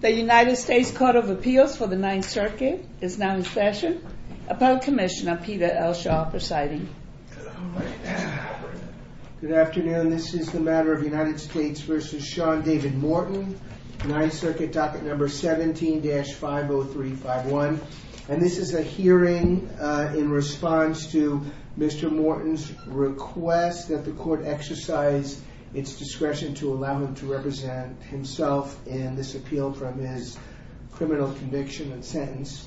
The United States Court of Appeals for the Ninth Circuit is now in session. Appellate Commissioner Peter L. Shaw presiding. Good afternoon. This is the matter of United States v. Sean David Morton, Ninth Circuit docket number 17-50351. And this is a hearing in response to Mr. Morton's request that the court exercise its discretion to allow him to represent himself in this appeal from his criminal conviction and sentence.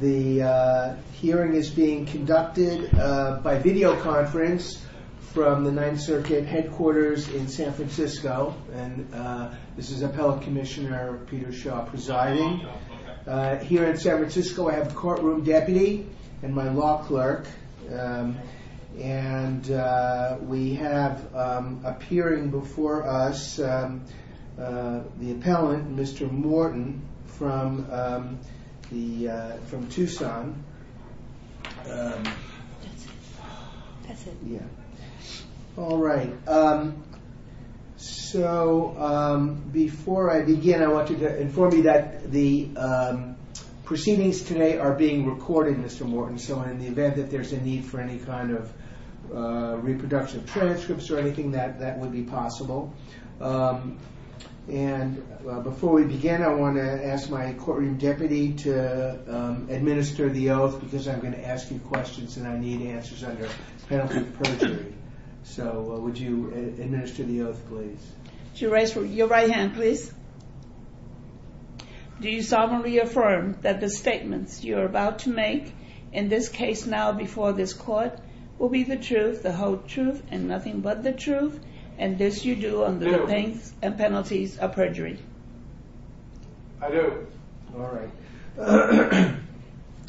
The hearing is being conducted by videoconference from the Ninth Circuit headquarters in San Francisco. And this is Appellate Commissioner Peter Shaw presiding. Here in San Francisco I have a courtroom deputy and my law clerk. And we have appearing before us the appellant, Mr. Morton, from Tucson. All right. So before I begin, I want you to inform me that the proceedings today are being recorded, Mr. Morton. So in the event that there's a need for any kind of reproduction transcripts or anything, that would be possible. And before we begin, I want to ask my courtroom deputy to administer the oath because I'm going to ask you questions and I need answers under penalty of perjury. So would you administer the oath, please? Would you raise your right hand, please? Do you solemnly affirm that the statements you are about to make, in this case now before this court, will be the truth, the whole truth, and nothing but the truth, and this you do under the penalties of perjury? I do. All right.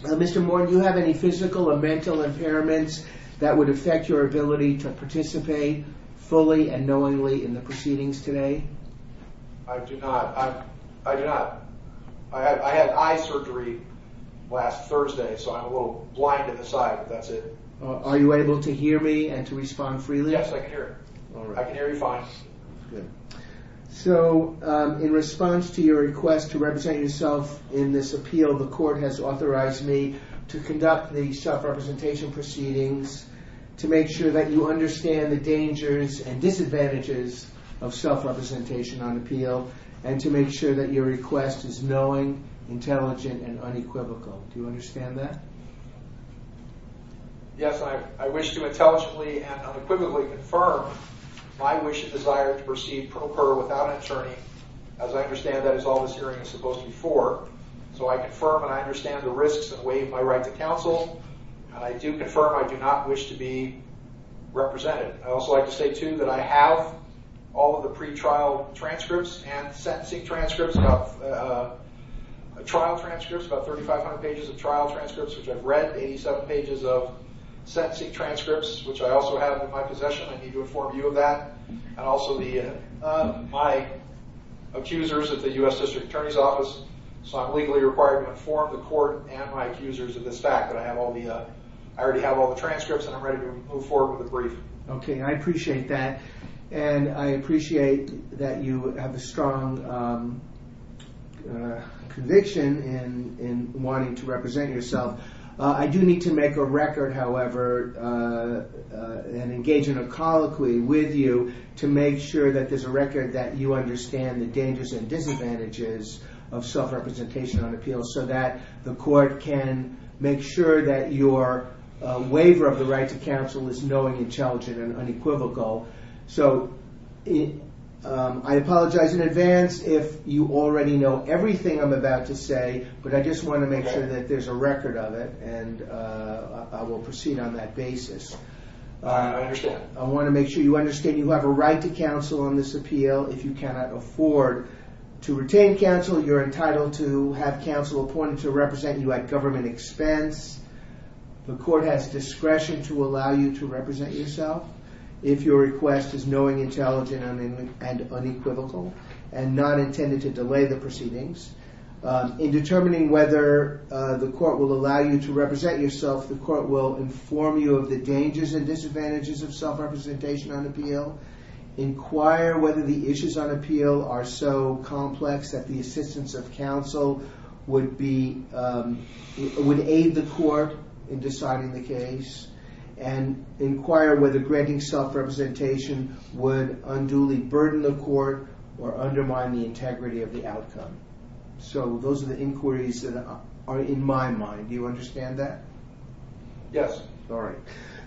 Mr. Morton, do you have any physical or mental impairments that would affect your ability to participate fully and knowingly in the proceedings today? I do not. I do not. I had eye surgery last Thursday, so I'm a little blind in the side, but that's it. Are you able to hear me and to respond freely? Yes, I can hear. I can hear you fine. So in response to your request to represent yourself in this appeal, the court has authorized me to conduct the self-representation proceedings to make sure that you understand the dangers and disadvantages of self-representation on appeal and to make sure that your request is knowing, intelligent, and unequivocal. Do you understand that? Yes, I wish to intelligently and unequivocally confirm my wish and desire to proceed pro per without an attorney, as I understand that is all this hearing is supposed to be for. So I confirm and I understand the risks and waive my right to counsel. I do confirm I do not wish to be represented. I'd also like to say, too, that I have all of the pretrial transcripts and sentencing transcripts, trial transcripts, about 3,500 pages of trial transcripts, which I've read, 87 pages of sentencing transcripts, which I also have in my possession. I need to inform you of that. And also my accusers at the U.S. District Attorney's Office, so I'm legally required to inform the court and my accusers of this fact that I already have all the transcripts and I'm ready to move forward with a brief. Okay, I appreciate that. And I appreciate that you have a strong conviction in wanting to represent yourself. I do need to make a record, however, and engage in a colloquy with you to make sure that there's a record that you understand the dangers and disadvantages of self-representation on appeal so that the court can make sure that your waiver of the right to counsel is knowing and challenging and unequivocal. So I apologize in advance if you already know everything I'm about to say, but I just want to make sure that there's a record of it, and I will proceed on that basis. I understand. I want to make sure you understand you have a right to counsel on this appeal. If you cannot afford to retain counsel, you're entitled to have counsel appointed to represent you at government expense. The court has discretion to allow you to represent yourself if your request is knowing, intelligent, and unequivocal and not intended to delay the proceedings. In determining whether the court will allow you to represent yourself, the court will inform you of the dangers and disadvantages of self-representation on appeal, inquire whether the issues on appeal are so complex that the assistance of counsel would aid the court in deciding the case, and inquire whether granting self-representation would unduly burden the court or undermine the integrity of the outcome. So those are the inquiries that are in my mind. Do you understand that? Yes. All right.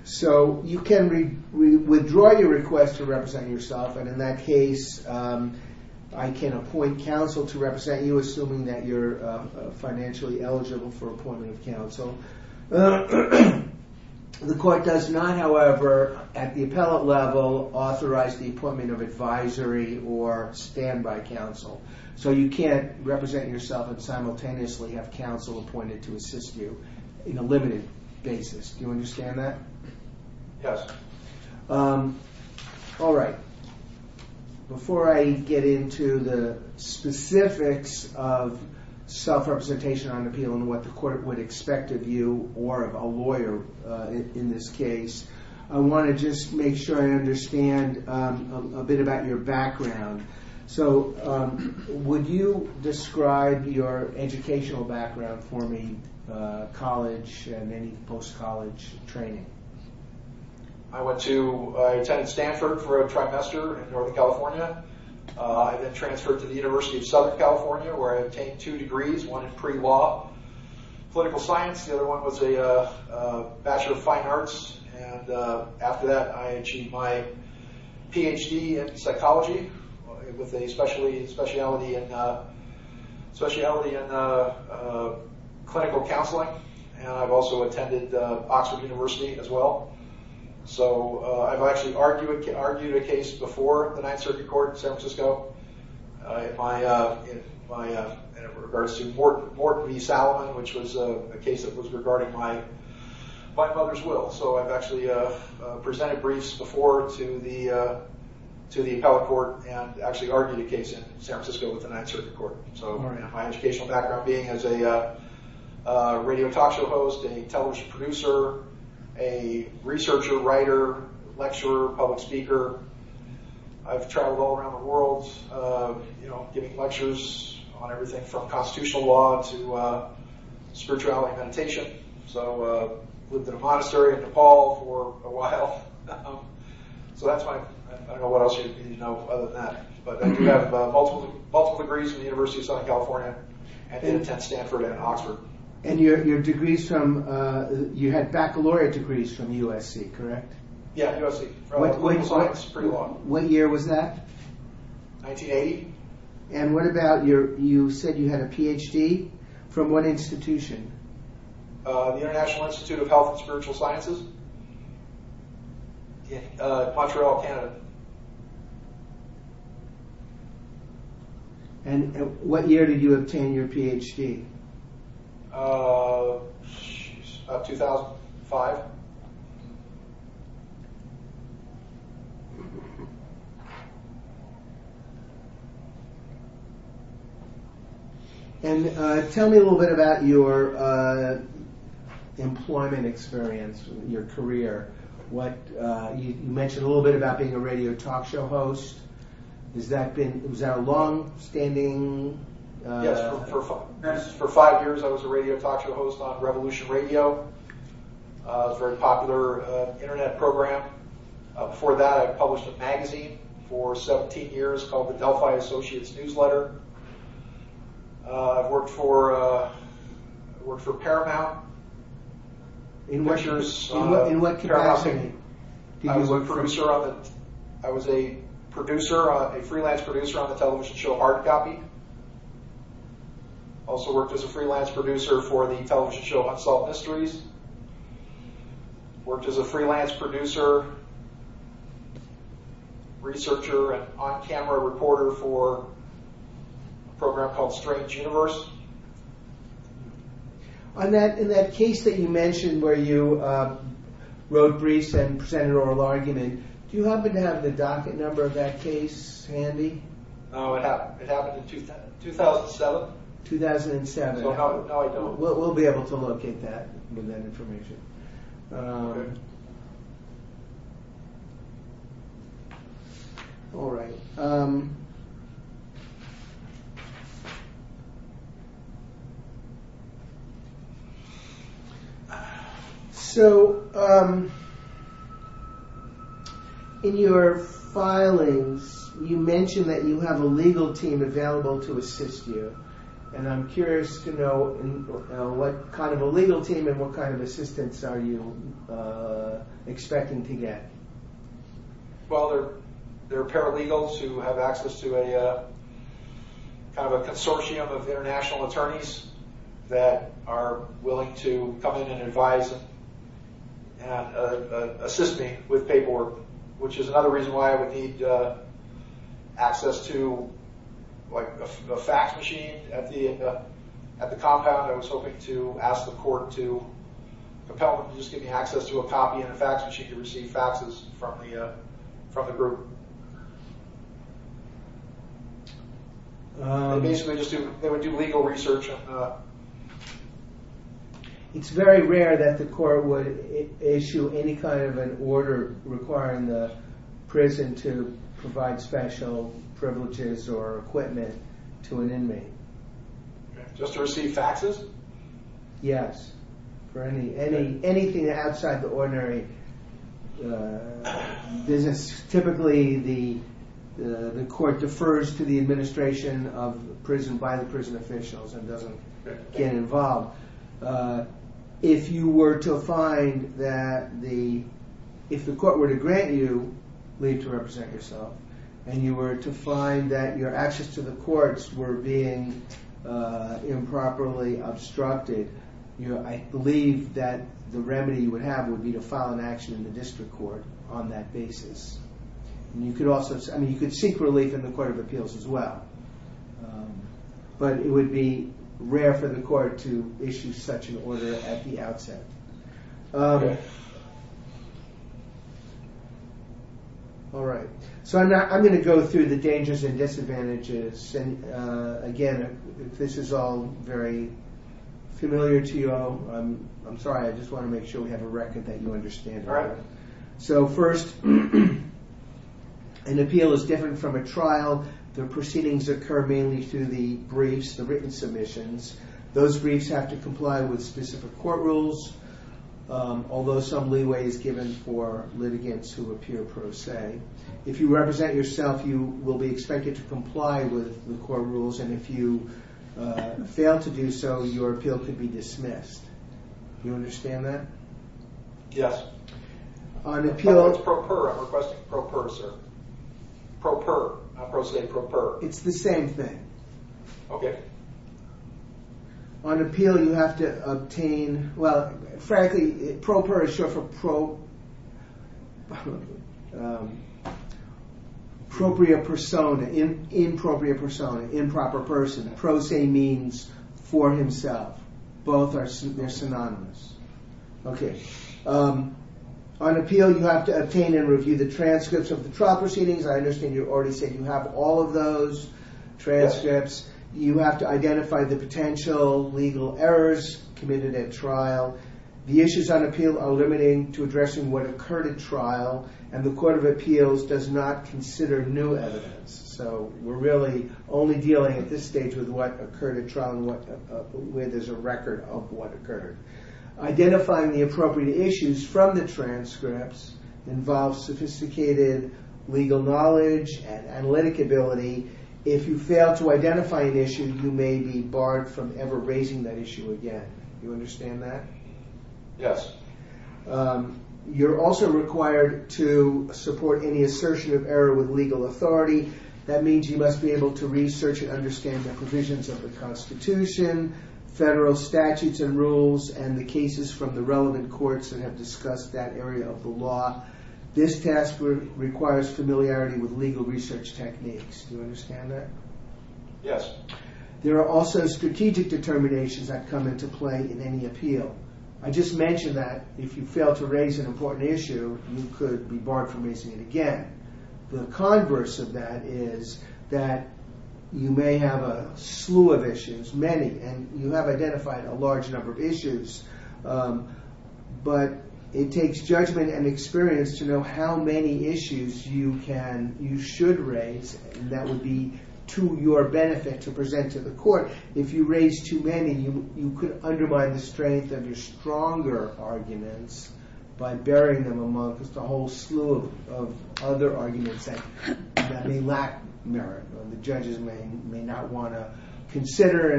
So you can withdraw your request to represent yourself, and in that case, I can appoint counsel to represent you assuming that you're financially eligible for appointment of counsel. The court does not, however, at the appellate level, authorize the appointment of advisory or standby counsel. So you can't represent yourself and simultaneously have counsel appointed to assist you in a limited basis. Do you understand that? Yes. All right. Before I get into the specifics of self-representation on appeal and what the court would expect of you or of a lawyer in this case, I want to just make sure I understand a bit about your background. So would you describe your educational background for me, college and any post-college training? I attended Stanford for a trimester in Northern California. I then transferred to the University of Southern California where I obtained two degrees, one in pre-law political science. The other one was a Bachelor of Fine Arts. And after that, I achieved my Ph.D. in psychology with a speciality in clinical counseling. And I've also attended Oxford University as well. So I've actually argued a case before the Ninth Circuit Court in San Francisco in regards to Morton v. Salomon, which was a case that was regarding my mother's will. So I've actually presented briefs before to the appellate court and actually argued a case in San Francisco with the Ninth Circuit Court. So my educational background being as a radio talk show host, a television producer, a researcher, writer, lecturer, public speaker. I've traveled all around the world giving lectures on everything from constitutional law to spirituality and meditation. So I've lived in a monastery in Nepal for a while. So that's my... I don't know what else you need to know other than that. But I do have multiple degrees from the University of Southern California. I did attend Stanford and Oxford. And your degrees from... you had baccalaureate degrees from USC, correct? Yeah, USC. Political science, pre-law. What year was that? 1980. And what about your... you said you had a Ph.D.? From what institution? The International Institute of Health and Spiritual Sciences. Montreal, Canada. And what year did you obtain your Ph.D.? 2005. And tell me a little bit about your employment experience, your career. You mentioned a little bit about being a radio talk show host. Was that a long-standing...? Yes. For five years I was a radio talk show host on Revolution Radio, a very popular Internet program. Before that I published a magazine for 17 years called the Delphi Associates Newsletter. I've worked for Paramount. In what capacity? I was a freelance producer on the television show Hard Copy. Also worked as a freelance producer for the television show Unsolved Mysteries. Worked as a freelance producer, researcher, and on-camera reporter for a program called Strange Universe. In that case that you mentioned where you wrote briefs and presented oral argument, do you happen to have the docket number of that case handy? It happened in 2007. We'll be able to locate that information. So, in your filings, you mentioned that you have a legal team available to assist you. And I'm curious to know what kind of a legal team and what kind of assistance are you expecting to get? Well, there are paralegals who have access to a consortium of international lawyers and international attorneys that are willing to come in and advise and assist me with paperwork, which is another reason why I would need access to a fax machine at the compound. I was hoping to ask the court to compel them to just give me access to a copy and a fax machine to receive faxes from the group. They would do legal research on that? It's very rare that the court would issue any kind of an order requiring the prison to provide special privileges or equipment to an inmate. Just to receive faxes? Yes. For anything outside the ordinary business, typically the court defers to the administration of the prison by the prison officials and doesn't get involved. If you were to find that the... If the court were to grant you leave to represent yourself and you were to find that your access to the courts were being improperly obstructed, I believe that the remedy you would have would be to file an action in the district court on that basis. You could seek relief in the Court of Appeals as well, but it would be rare for the court to issue such an order at the outset. All right. I'm going to go through the dangers and disadvantages. Again, this is all very familiar to you all. I'm sorry. I just want to make sure we have a record that you understand. All right. First, an appeal is different from a trial. The proceedings occur mainly through the briefs, the written submissions. Those briefs have to comply with specific court rules, although some leeway is given for litigants who appear per se. If you represent yourself, you will be expected to comply with the court rules, and if you fail to do so, your appeal could be dismissed. Do you understand that? Yes. On appeal... Oh, that's pro per. I'm requesting pro per, sir. Pro per. I'm going to say pro per. It's the same thing. Okay. On appeal, you have to obtain... Well, frankly, pro per is short for... appropriate persona, inappropriate persona, improper person. Pro se means for himself. Both are synonymous. Okay. On appeal, you have to obtain and review the transcripts of the trial proceedings. I understand you already said you have all of those transcripts. You have to identify the potential legal errors committed at trial. The issues on appeal are limiting to addressing what occurred at trial, and the Court of Appeals does not consider new evidence. So we're really only dealing at this stage with what occurred at trial and where there's a record of what occurred. Identifying the appropriate issues from the transcripts involves sophisticated legal knowledge and analytic ability. If you fail to identify an issue, you may be barred from ever raising that issue again. Do you understand that? Yes. You're also required to support any assertion of error with legal authority. That means you must be able to research and understand the provisions of the Constitution, federal statutes and rules, and the cases from the relevant courts that have discussed that area of the law. This task requires familiarity with legal research techniques. Do you understand that? Yes. There are also strategic determinations that come into play in any appeal. I just mentioned that if you fail to raise an important issue, you could be barred from raising it again. The converse of that is that you may have a slew of issues, many, and you have identified a large number of issues, but it takes judgment and experience to know how many issues you should raise that would be to your benefit to present to the court. If you raise too many, you could undermine the strength of your stronger arguments by burying them among just a whole slew of other arguments that may lack merit or the judges may not want to consider.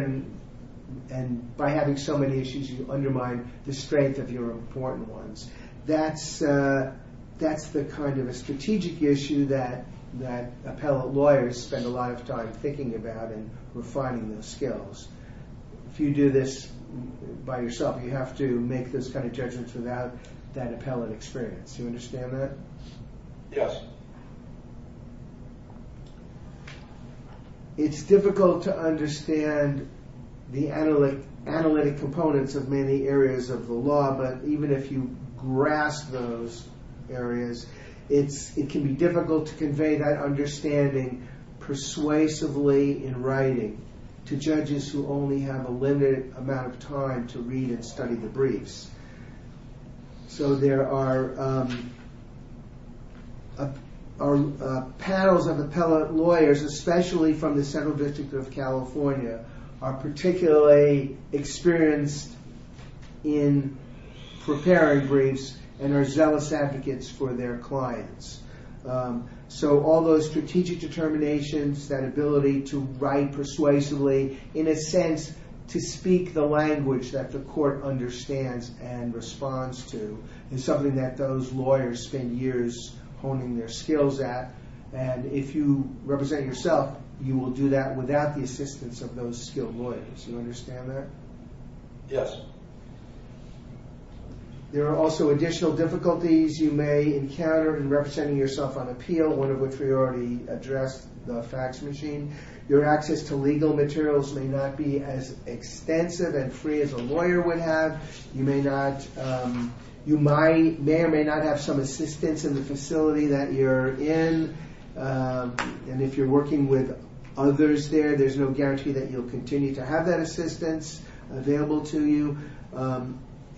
And by having so many issues, you undermine the strength of your important ones. That's the kind of a strategic issue that appellate lawyers spend a lot of time thinking about and refining those skills. If you do this by yourself, you have to make those kind of judgments without that appellate experience. Do you understand that? Yes. It's difficult to understand the analytic components of many areas of the law, but even if you grasp those areas, it can be difficult to convey that understanding persuasively in writing to judges who only have a limited amount of time to read and study the briefs. So there are panels of appellate lawyers, especially from the Central District of California, are particularly experienced in preparing briefs and are zealous advocates for their clients. So all those strategic determinations, that ability to write persuasively, in a sense to speak the language that the court understands and responds to, is something that those lawyers spend years honing their skills at. And if you represent yourself, you will do that without the assistance of those skilled lawyers. Do you understand that? Yes. There are also additional difficulties you may encounter in representing yourself on appeal, one of which we already addressed, the fax machine. Your access to legal materials may not be as extensive and free as a lawyer would have. You may or may not have some assistance in the facility that you're in. And if you're working with others there, there's no guarantee that you'll continue to have that assistance available to you.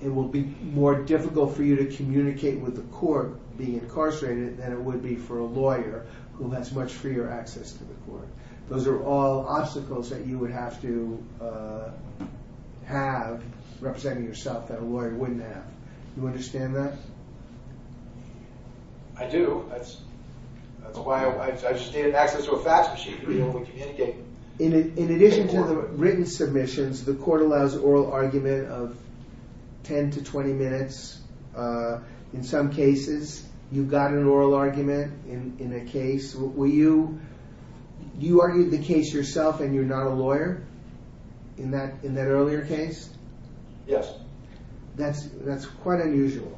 It will be more difficult for you to communicate with the court being incarcerated than it would be for a lawyer who has much freer access to the court. Those are all obstacles that you would have to have representing yourself that a lawyer wouldn't have. Do you understand that? I do. That's why I just needed access to a fax machine to be able to communicate. In addition to the written submissions, the court allows oral argument of 10 to 20 minutes. In some cases, you got an oral argument in a case. You argued the case yourself and you're not a lawyer in that earlier case? Yes. That's quite unusual.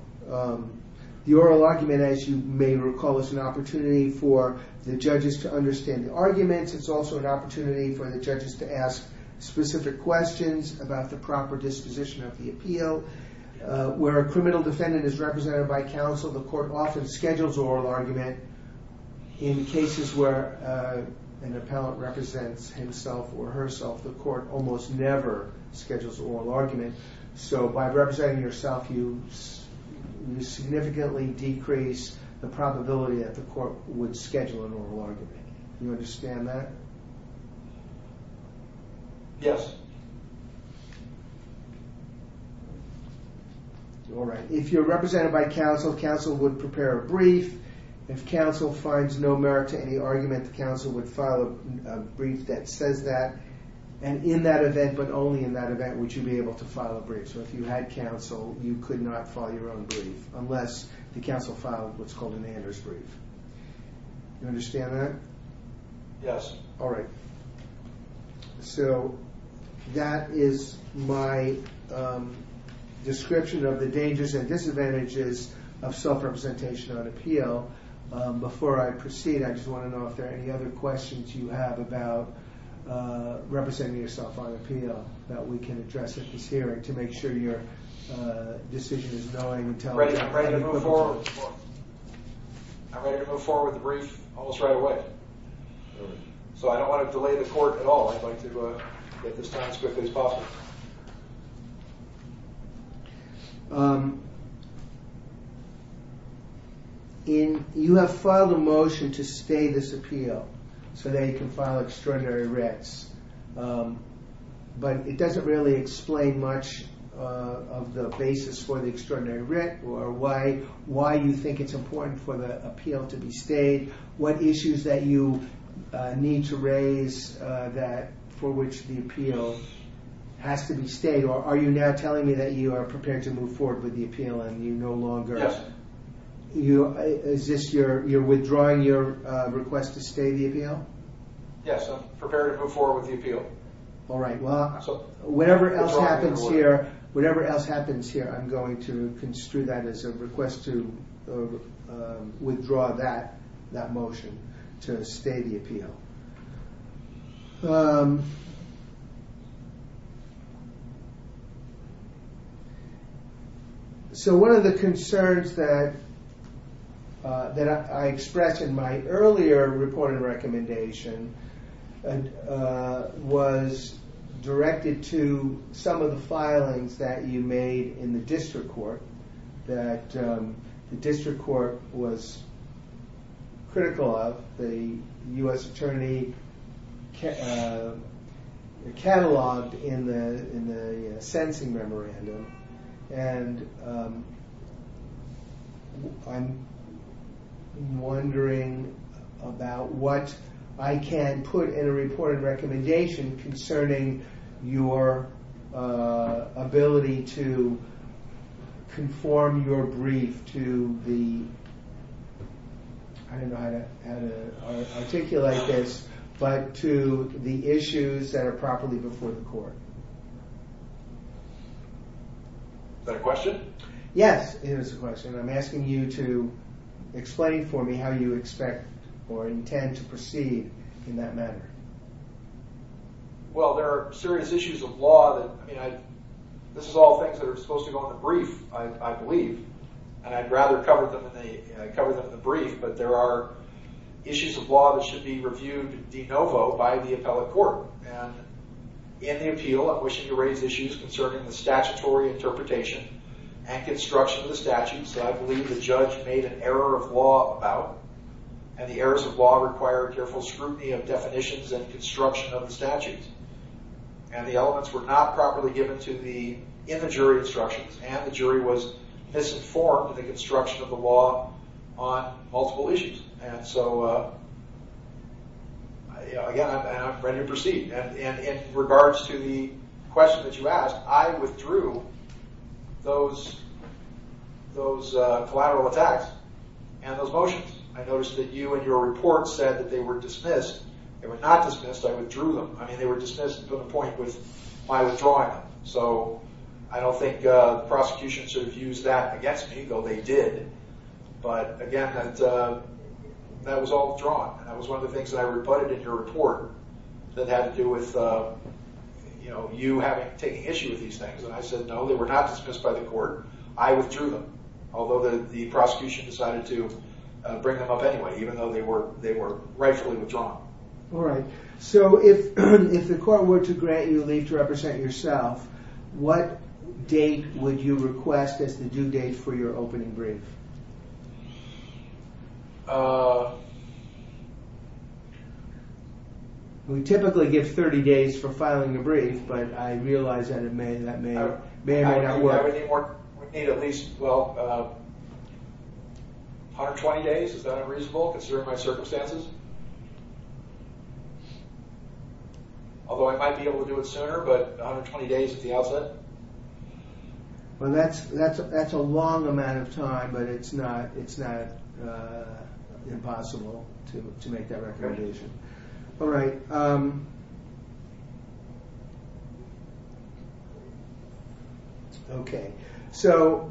The oral argument, as you may recall, is an opportunity for the judges to understand the arguments. It's also an opportunity for the judges to ask specific questions about the proper disposition of the appeal. Where a criminal defendant is represented by counsel, the court often schedules oral argument. In cases where an appellant represents himself or herself, the court almost never schedules oral argument. So by representing yourself, you significantly decrease the probability that the court would schedule an oral argument. Do you understand that? Yes. All right. If you're represented by counsel, counsel would prepare a brief. If counsel finds no merit to any argument, the counsel would file a brief that says that. And in that event, but only in that event, would you be able to file a brief. So if you had counsel, you could not file your own brief unless the counsel filed what's called an Anders brief. You understand that? Yes. All right. So that is my description of the dangers and disadvantages of self-representation on appeal. Before I proceed, I just want to know if there are any other questions you have about representing yourself on appeal that we can address at this hearing to make sure your decision is knowing and telling. I'm ready to move forward. I'm ready to move forward with the brief almost right away. So I don't want to delay the court at all. I'd like to get this transcript as quickly as possible. You have filed a motion to stay this appeal so that you can file extraordinary writs. But it doesn't really explain much of the basis for the extraordinary writ or why you think it's important for the appeal to be stayed, what issues that you need to raise for which the appeal has to be stayed, or are you now telling me that you are prepared to move forward with the appeal and you no longer... Yes. Is this you're withdrawing your request to stay the appeal? Yes, I'm prepared to move forward with the appeal. All right. Whatever else happens here, I'm going to construe that as a request to withdraw that motion to stay the appeal. So one of the concerns that I expressed in my earlier report and recommendation was directed to some of the filings that you made in the district court that the district court was critical of. The U.S. Attorney cataloged in the sentencing memorandum. And I'm wondering about what I can put in a reported recommendation concerning your ability to conform your brief to the... I don't know how to articulate this, but to the issues that are properly before the court. Is that a question? Yes, it is a question. I'm asking you to explain for me how you expect or intend to proceed in that matter. Well, there are serious issues of law that... This is all things that are supposed to go in the brief, I believe. And I'd rather cover them in the brief, but there are issues of law that should be reviewed de novo by the appellate court. And in the appeal, I'm wishing to raise issues concerning the statutory interpretation and construction of the statute. So I believe the judge made an error of law about... And the errors of law require careful scrutiny of definitions and construction of the statutes. And the elements were not properly given to the... in the jury instructions. And the jury was misinformed of the construction of the law on multiple issues. And so, again, I'm ready to proceed. And in regards to the question that you asked, I withdrew those collateral attacks and those motions. I noticed that you in your report said that they were dismissed. They were not dismissed. I withdrew them. I mean, they were dismissed to the point with my withdrawing them. So I don't think the prosecution should have used that against me, though they did. But, again, that was all withdrawn. That was one of the things that I reported in your report that had to do with, you know, you taking issue with these things. And I said, no, they were not dismissed by the court. I withdrew them. Although the prosecution decided to bring them up anyway, even though they were rightfully withdrawn. All right. So if the court were to grant you leave to represent yourself, what date would you request as the due date for your opening brief? We typically give 30 days for filing a brief, but I realize that may not work. I would need at least, well, 120 days. Is that unreasonable considering my circumstances? Although I might be able to do it sooner, but 120 days at the outset? Well, that's a long amount of time, but it's not impossible to make that recommendation. All right. Okay. So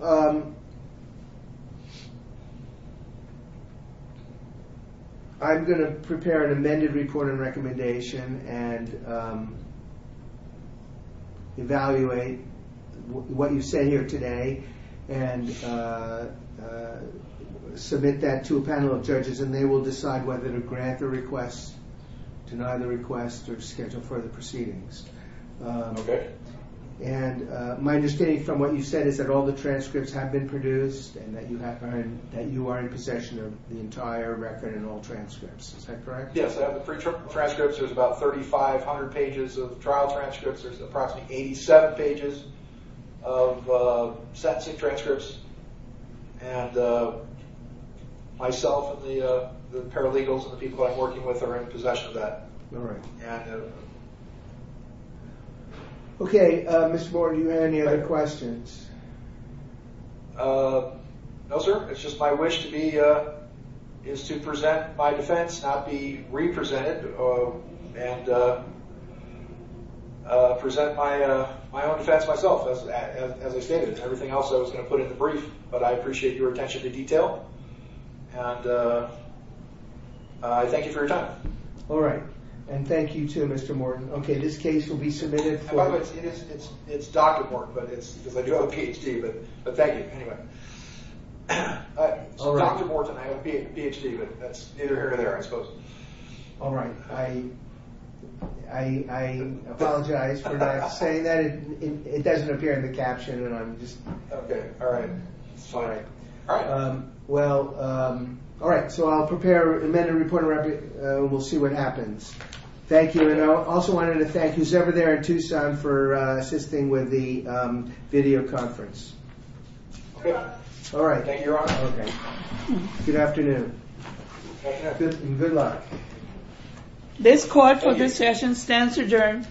I'm going to prepare an amended report and recommendation and evaluate what you say here today and submit that to a panel of judges and they will decide whether to grant the request, deny the request, or schedule further proceedings. Okay. And my understanding from what you've said is that all the transcripts have been produced and that you are in possession of the entire record and all transcripts. Is that correct? Yes, I have the pre-transcripts. There's about 3,500 pages of trial transcripts. There's approximately 87 pages of sentencing transcripts. And myself and the paralegals and the people I'm working with are in possession of that. All right. Okay. Mr. Board, do you have any other questions? No, sir. It's just my wish is to present my defense, not be re-presented and present my own defense myself. As I stated, everything else I was going to put in the brief, but I appreciate your attention to detail and I thank you for your time. All right. And thank you too, Mr. Morton. Okay, this case will be submitted for... By the way, it's Dr. Morton because I do have a PhD, but thank you anyway. It's Dr. Morton. I have a PhD, but that's neither here nor there, I suppose. All right. I apologize for not saying that. It doesn't appear in the caption and I'm just... Okay, all right. It's fine. All right. Well, all right. So I'll prepare an amended report and we'll see what happens. Thank you. And I also wanted to thank who's ever there in Tucson for assisting with the video conference. You're welcome. All right. You're welcome. Okay. Good afternoon. Good afternoon. Good luck. This court for this session stands adjourned.